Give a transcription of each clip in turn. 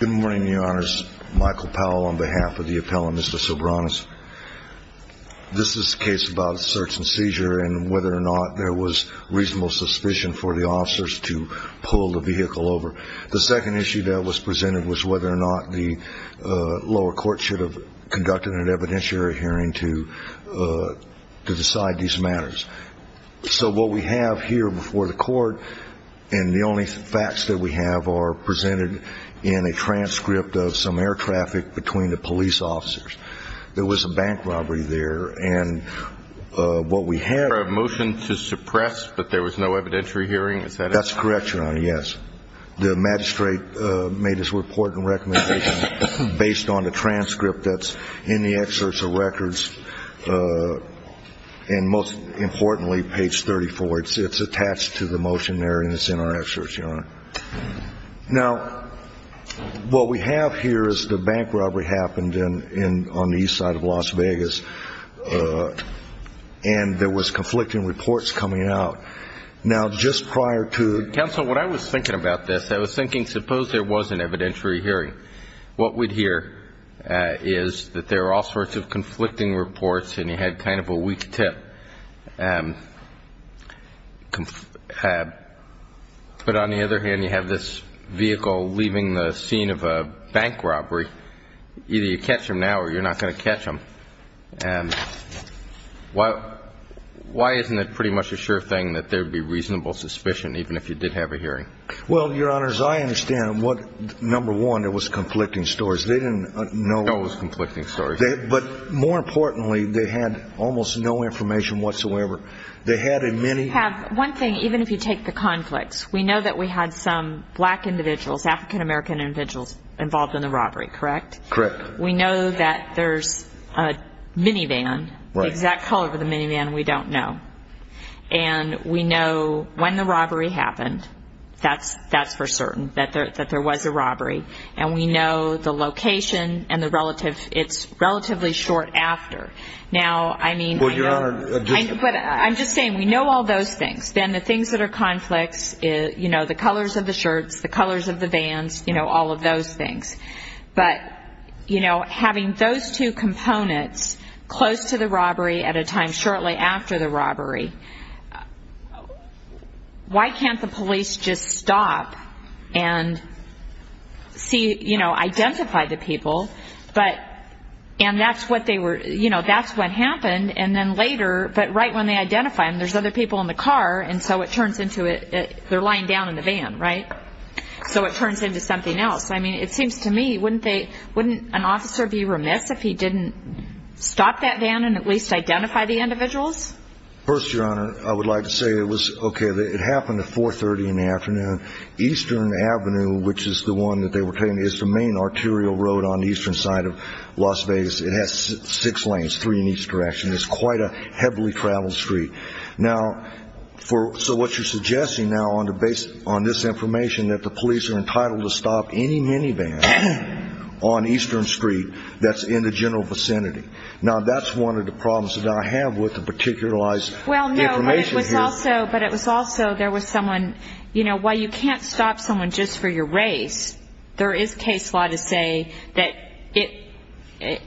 Good morning, your honors. Michael Powell on behalf of the appellant, Mr. Soberanis. This is a case about search and seizure and whether or not there was reasonable suspicion for the officers to pull the vehicle over. The second issue that was presented was whether or not the lower court should have conducted an evidentiary hearing to decide these matters. So what we have here before the court and the only facts that we have are presented in a transcript of some air traffic between the police officers. There was a bank robbery there. And what we have motion to suppress. But there was no evidentiary hearing. That's correct. Yes. The magistrate made his report and recommendation based on the transcript that's in the excerpt of records. And most importantly, page 34, it's attached to the motion there and it's in our excerpt, your honor. Now, what we have here is the bank robbery happened in on the east side of Las Vegas. And there was conflicting reports coming out. Now, just prior to counsel, what I was thinking about this, I was thinking, suppose there was an evidentiary hearing. What we'd hear is that there are all sorts of conflicting reports. And you had kind of a weak tip. But on the other hand, you have this vehicle leaving the scene of a bank robbery. Either you catch him now or you're not going to catch him. Why isn't it pretty much a sure thing that there would be reasonable suspicion even if you did have a hearing? Well, your honors, I understand what number one, it was conflicting stories. They didn't know it was conflicting stories. But more importantly, they had almost no information whatsoever. They had a mini have one thing. Even if you take the conflicts, we know that we had some black individuals, African-American individuals involved in the robbery. Correct. Correct. We know that there's a minivan. The exact color of the minivan, we don't know. And we know when the robbery happened. That's for certain, that there was a robbery. And we know the location and the relative. It's relatively short after. Now, I mean, I'm just saying we know all those things. Then the things that are conflicts, you know, the colors of the shirts, the colors of the vans, you know, all of those things. But, you know, having those two components close to the robbery at a time shortly after the robbery, why can't the police just stop and see, you know, identify the people? And that's what they were, you know, that's what happened. And then later, but right when they identify them, there's other people in the car. And so it turns into they're lying down in the van, right? So it turns into something else. I mean, it seems to me, wouldn't an officer be remiss if he didn't stop that van and at least identify the individuals? First, Your Honor, I would like to say it was okay. It happened at 4.30 in the afternoon. Eastern Avenue, which is the one that they were telling me, is the main arterial road on the eastern side of Las Vegas. It has six lanes, three in each direction. It's quite a heavily traveled street. Now, so what you're suggesting now on this information that the police are entitled to stop any minivan on Eastern Street that's in the general vicinity. Now, that's one of the problems that I have with the particularized information here. Well, no, but it was also there was someone, you know, while you can't stop someone just for your race, there is case law to say that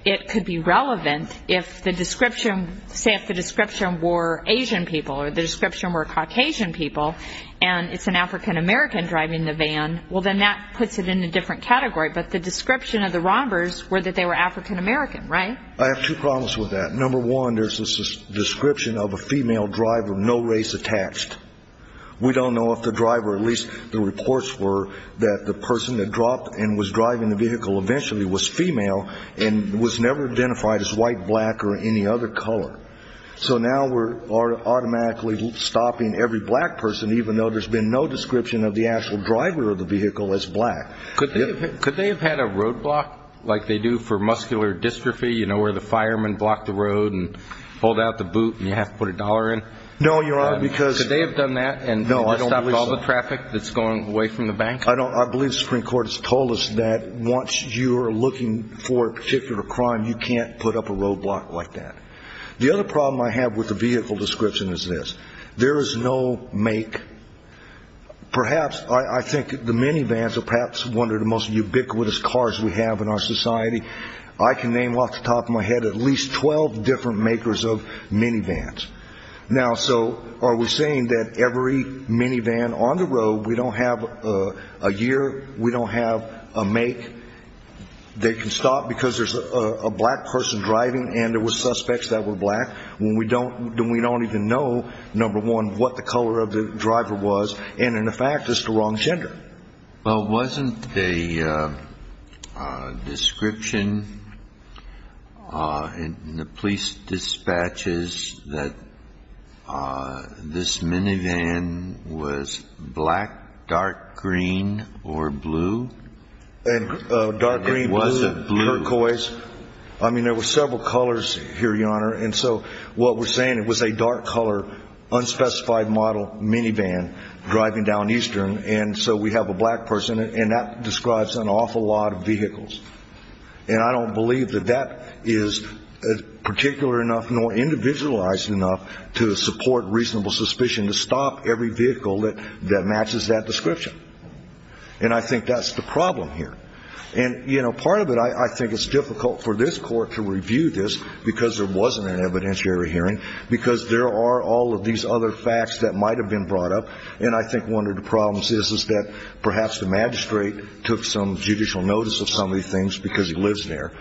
it could be relevant if the description, say if the description were Asian people or the description were Caucasian people and it's an African American driving the van, well, then that puts it in a different category. But the description of the robbers were that they were African American, right? I have two problems with that. Number one, there's this description of a female driver, no race attached. We don't know if the driver, at least the reports were that the person that dropped and was driving the vehicle eventually was female and was never identified as white, black or any other color. So now we're automatically stopping every black person, even though there's been no description of the actual driver of the vehicle as black. Could they have had a roadblock like they do for muscular dystrophy, you know, where the fireman blocked the road and pulled out the boot and you have to put a dollar in? No, Your Honor, because Could they have done that and stopped all the traffic that's going away from the bank? I believe the Supreme Court has told us that once you're looking for a particular crime, you can't put up a roadblock like that. The other problem I have with the vehicle description is this. There is no make. Perhaps, I think the minivans are perhaps one of the most ubiquitous cars we have in our society. I can name off the top of my head at least 12 different makers of minivans. Now, so are we saying that every minivan on the road, we don't have a year, we don't have a make, they can stop because there's a black person driving and there were suspects that were black? We don't even know, number one, what the color of the driver was. And in fact, it's the wrong gender. Well, wasn't the description in the police dispatches that this minivan was black, dark green, or blue? Dark green, blue, turquoise. I mean, there were several colors here, Your Honor. And so what we're saying, it was a dark color, unspecified model minivan driving down eastern. And so we have a black person, and that describes an awful lot of vehicles. And I don't believe that that is particular enough nor individualized enough to support reasonable suspicion to stop every vehicle that matches that description. And I think that's the problem here. And, you know, part of it, I think it's difficult for this court to review this because there wasn't an evidentiary hearing, because there are all of these other facts that might have been brought up. And I think one of the problems is that perhaps the magistrate took some judicial notice of some of these things because he lives there,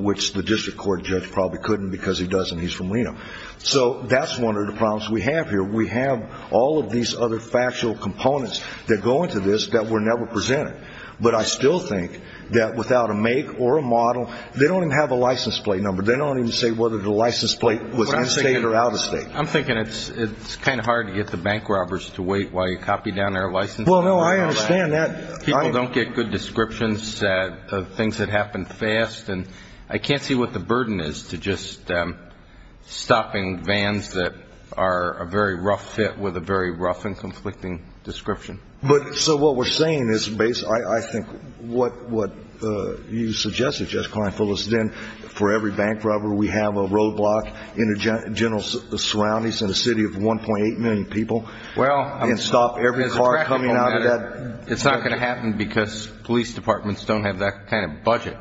which the district court judge probably couldn't because he doesn't. He's from Reno. So that's one of the problems we have here. We have all of these other factual components that go into this that were never presented. But I still think that without a make or a model, they don't even have a license plate number. They don't even say whether the license plate was in-state or out-of-state. I'm thinking it's kind of hard to get the bank robbers to wait while you copy down their license plate number. Well, no, I understand that. People don't get good descriptions of things that happen fast. And I can't see what the burden is to just stopping vans that are a very rough fit with a very rough and conflicting description. So what we're saying is I think what you suggested, Justice Klein, for every bank robber we have a roadblock in the general surroundings in a city of 1.8 million people and stop every car coming out of that. It's not going to happen because police departments don't have that kind of budget.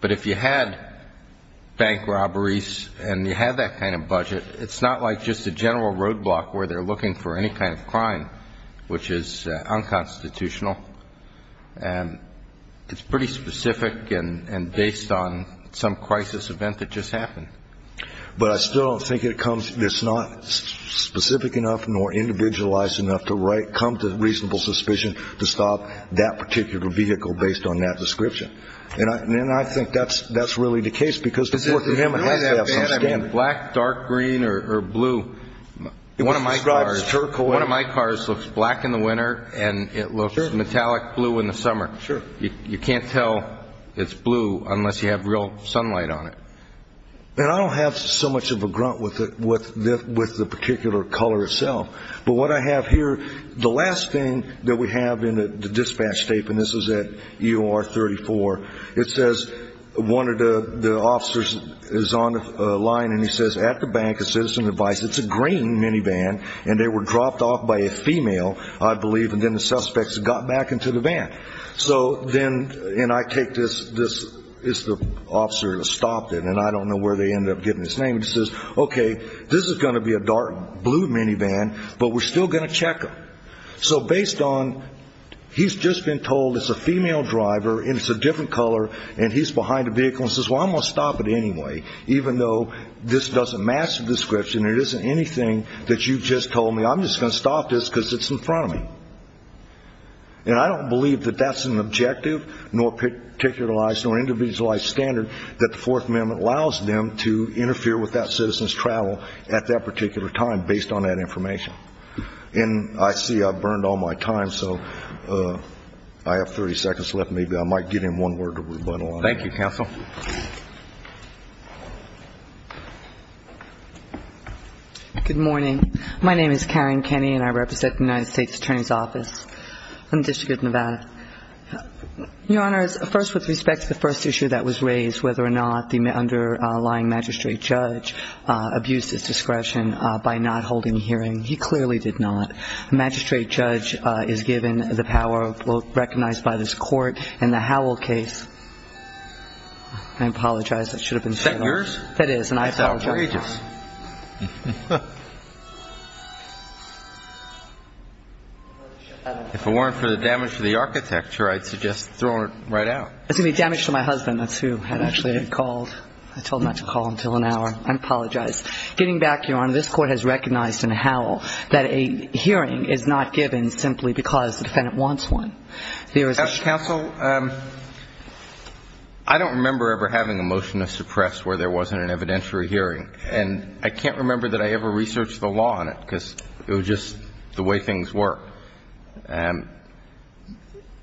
But if you had bank robberies and you had that kind of budget, it's not like just a general roadblock where they're looking for any kind of crime, which is unconstitutional. And it's pretty specific and based on some crisis event that just happened. But I still don't think it's not specific enough nor individualized enough to come to reasonable suspicion to stop that particular vehicle based on that description. And I think that's really the case because the court in him has to have some standard. Black, dark green or blue. One of my cars looks black in the winter and it looks metallic blue in the summer. You can't tell it's blue unless you have real sunlight on it. And I don't have so much of a grunt with the particular color itself. But what I have here, the last thing that we have in the dispatch tape, and this is at UR 34, it says one of the officers is on the line and he says, at the Bank of Citizen Advice, it's a green minivan and they were dropped off by a female, I believe, and then the suspects got back into the van. So then, and I take this, it's the officer that stopped it and I don't know where they ended up getting his name. He says, okay, this is going to be a dark blue minivan, but we're still going to check him. So based on, he's just been told it's a female driver and it's a different color and he's behind a vehicle and says, well, I'm going to stop it anyway, even though this doesn't match the description, it isn't anything that you just told me, I'm just going to stop this because it's in front of me. And I don't believe that that's an objective nor a particularized nor an individualized standard that the Fourth Amendment allows them to interfere with that citizen's travel at that particular time based on that information. And I see I've burned all my time, so I have 30 seconds left. Maybe I might give him one word of rebuttal. Thank you, Counsel. Good morning. My name is Karen Kenny and I represent the United States Attorney's Office in the District of Nevada. Your Honor, first with respect to the first issue that was raised, whether or not the underlying magistrate judge abused his discretion by not holding a hearing. He clearly did not. A magistrate judge is given the power recognized by this court in the Howell case. I apologize. Is that yours? That is, and I apologize. That's outrageous. If it weren't for the damage to the architecture, I'd suggest throwing it right out. It's going to be damage to my husband. That's who had actually called. I told him not to call until an hour. I apologize. Getting back, Your Honor, this court has recognized in Howell that a hearing is not given simply because the defendant wants one. Counsel, I don't remember ever having a motion to suppress where there wasn't an evidentiary hearing, and I can't remember that I ever researched the law on it because it was just the way things work.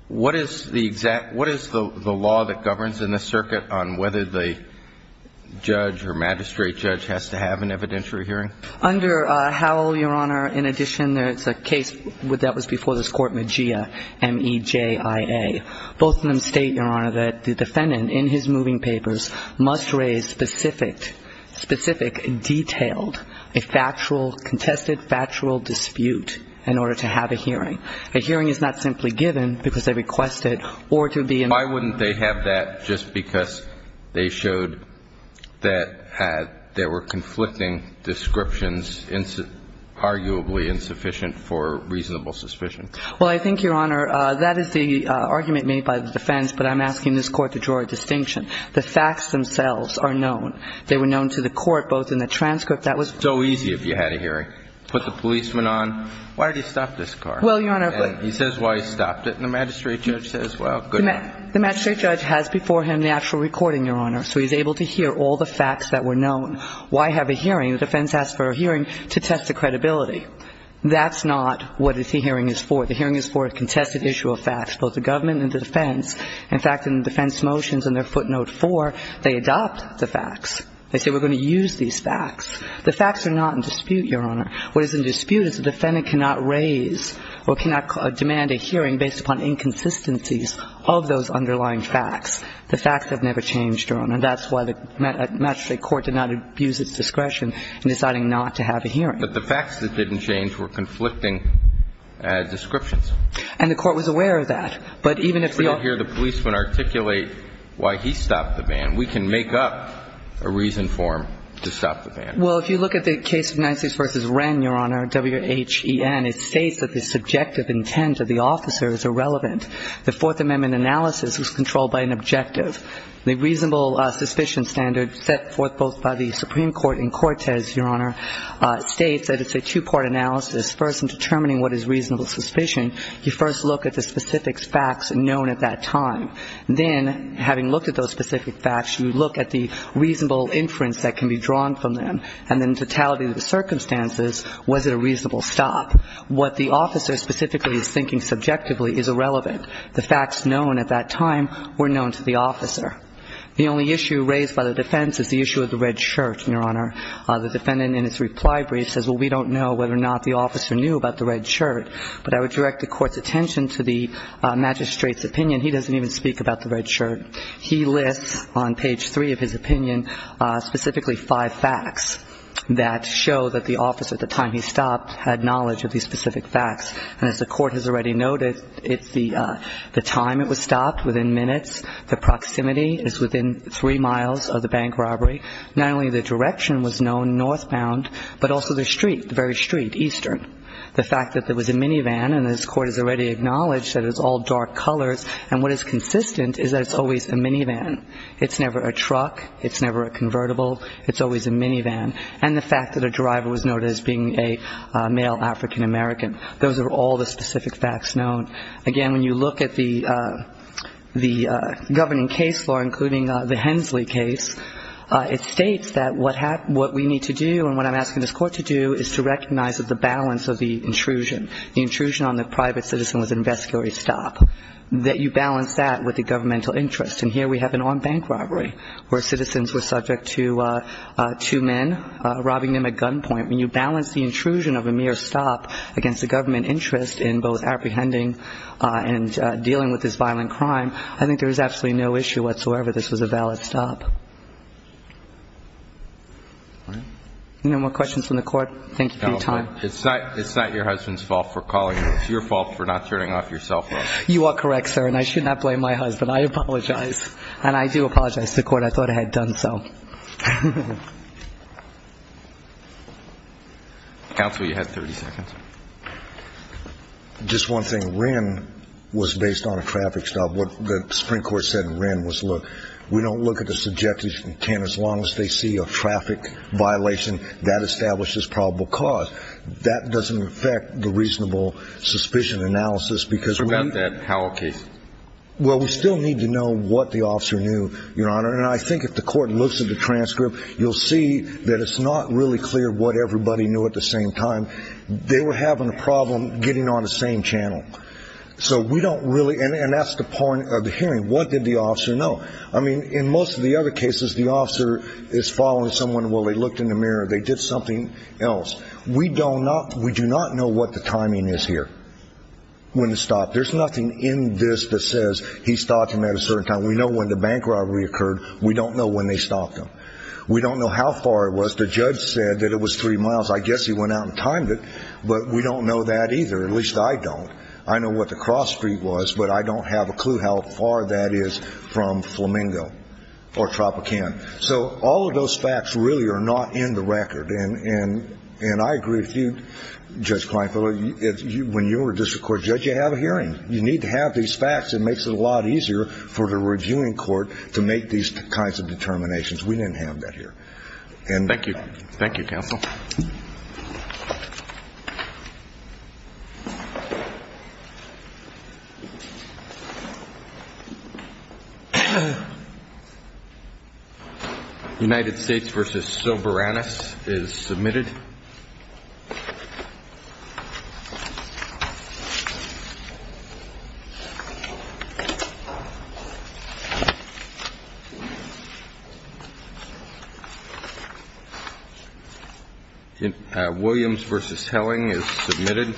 What is the law that governs in this circuit on whether the judge or magistrate judge has to have an evidentiary hearing? Under Howell, Your Honor, in addition, there's a case that was before this court, Mejia, M-E-J-I-A. Both of them state, Your Honor, that the defendant in his moving papers must raise specific, detailed, contested factual dispute in order to have a hearing. A hearing is not simply given because they request it or to be in the court. Why wouldn't they have that just because they showed that there were conflicting descriptions, arguably insufficient for reasonable suspicion? Well, I think, Your Honor, that is the argument made by the defense, but I'm asking this court to draw a distinction. The facts themselves are known. They were known to the court both in the transcript. That was so easy if you had a hearing. Put the policeman on. Why did he stop this car? Well, Your Honor. He says why he stopped it, and the magistrate judge says, well, good enough. The magistrate judge has before him the actual recording, Your Honor, so he's able to hear all the facts that were known. Why have a hearing? The defense asked for a hearing to test the credibility. That's not what the hearing is for. The hearing is for a contested issue of facts, both the government and the defense. In fact, in the defense motions in their footnote 4, they adopt the facts. They say we're going to use these facts. The facts are not in dispute, Your Honor. What is in dispute is the defendant cannot raise or cannot demand a hearing based upon inconsistencies of those underlying facts. The facts have never changed, Your Honor, and that's why the magistrate court did not abuse its discretion in deciding not to have a hearing. But the facts that didn't change were conflicting descriptions. And the court was aware of that. But even if the officer didn't hear the policeman articulate why he stopped the van, we can make up a reason for him to stop the van. Well, if you look at the case of Nisus v. Wren, Your Honor, W-H-E-N, it states that the subjective intent of the officer is irrelevant. The Fourth Amendment analysis was controlled by an objective. The reasonable suspicion standard set forth both by the Supreme Court and Cortez, Your Honor, states that it's a two-part analysis, first in determining what is reasonable suspicion. You first look at the specific facts known at that time. Then, having looked at those specific facts, you look at the reasonable inference that can be drawn from them. And then in totality of the circumstances, was it a reasonable stop? What the officer specifically is thinking subjectively is irrelevant. The facts known at that time were known to the officer. The only issue raised by the defense is the issue of the red shirt, Your Honor. The defendant in its reply brief says, well, we don't know whether or not the officer knew about the red shirt. But I would direct the Court's attention to the magistrate's opinion. He doesn't even speak about the red shirt. He lists on page 3 of his opinion specifically five facts that show that the officer at the time he stopped had knowledge of these specific facts. And as the Court has already noted, it's the time it was stopped, within minutes. The proximity is within three miles of the bank robbery. Not only the direction was known, northbound, but also the street, the very street, eastern. The fact that there was a minivan, and this Court has already acknowledged that it's all dark colors. And what is consistent is that it's always a minivan. It's never a truck. It's never a convertible. It's always a minivan. And the fact that a driver was noted as being a male African American. Those are all the specific facts known. Again, when you look at the governing case law, including the Hensley case, it states that what we need to do and what I'm asking this Court to do is to recognize that the balance of the intrusion, the intrusion on the private citizen was an investigatory stop. That you balance that with the governmental interest. And here we have an armed bank robbery where citizens were subject to two men robbing them at gunpoint. When you balance the intrusion of a mere stop against the government interest in both apprehending and dealing with this violent crime, I think there is absolutely no issue whatsoever this was a valid stop. Any more questions from the Court? Thank you for your time. It's not your husband's fault for calling. It's your fault for not turning off your cell phone. You are correct, sir, and I should not blame my husband. I apologize. And I do apologize to the Court. I thought I had done so. Counsel, you have 30 seconds. Just one thing. Wren was based on a traffic stop. What the Supreme Court said in Wren was, look, we don't look at the subject as you can. As long as they see a traffic violation, that establishes probable cause. That doesn't affect the reasonable suspicion analysis because we're going to. How about that Howell case? Well, we still need to know what the officer knew, Your Honor. And I think if the Court looks at the transcript, you'll see that it's not really clear what everybody knew at the same time. They were having a problem getting on the same channel. So we don't really, and that's the point of the hearing. What did the officer know? I mean, in most of the other cases, the officer is following someone while they looked in the mirror. They did something else. We do not know what the timing is here when it stopped. There's nothing in this that says he stopped him at a certain time. We know when the bank robbery occurred. We don't know when they stopped him. We don't know how far it was. The judge said that it was three miles. I guess he went out and timed it. But we don't know that either. At least I don't. I know what the cross street was, but I don't have a clue how far that is from Flamingo or Tropicana. So all of those facts really are not in the record. And I agree with you, Judge Kleinfeld, when you're a district court judge, you have a hearing. You need to have these facts. It makes it a lot easier for the reviewing court to make these kinds of determinations. We didn't have that here. And thank you. United States v. Soberanus is submitted. Williams v. Helling is submitted.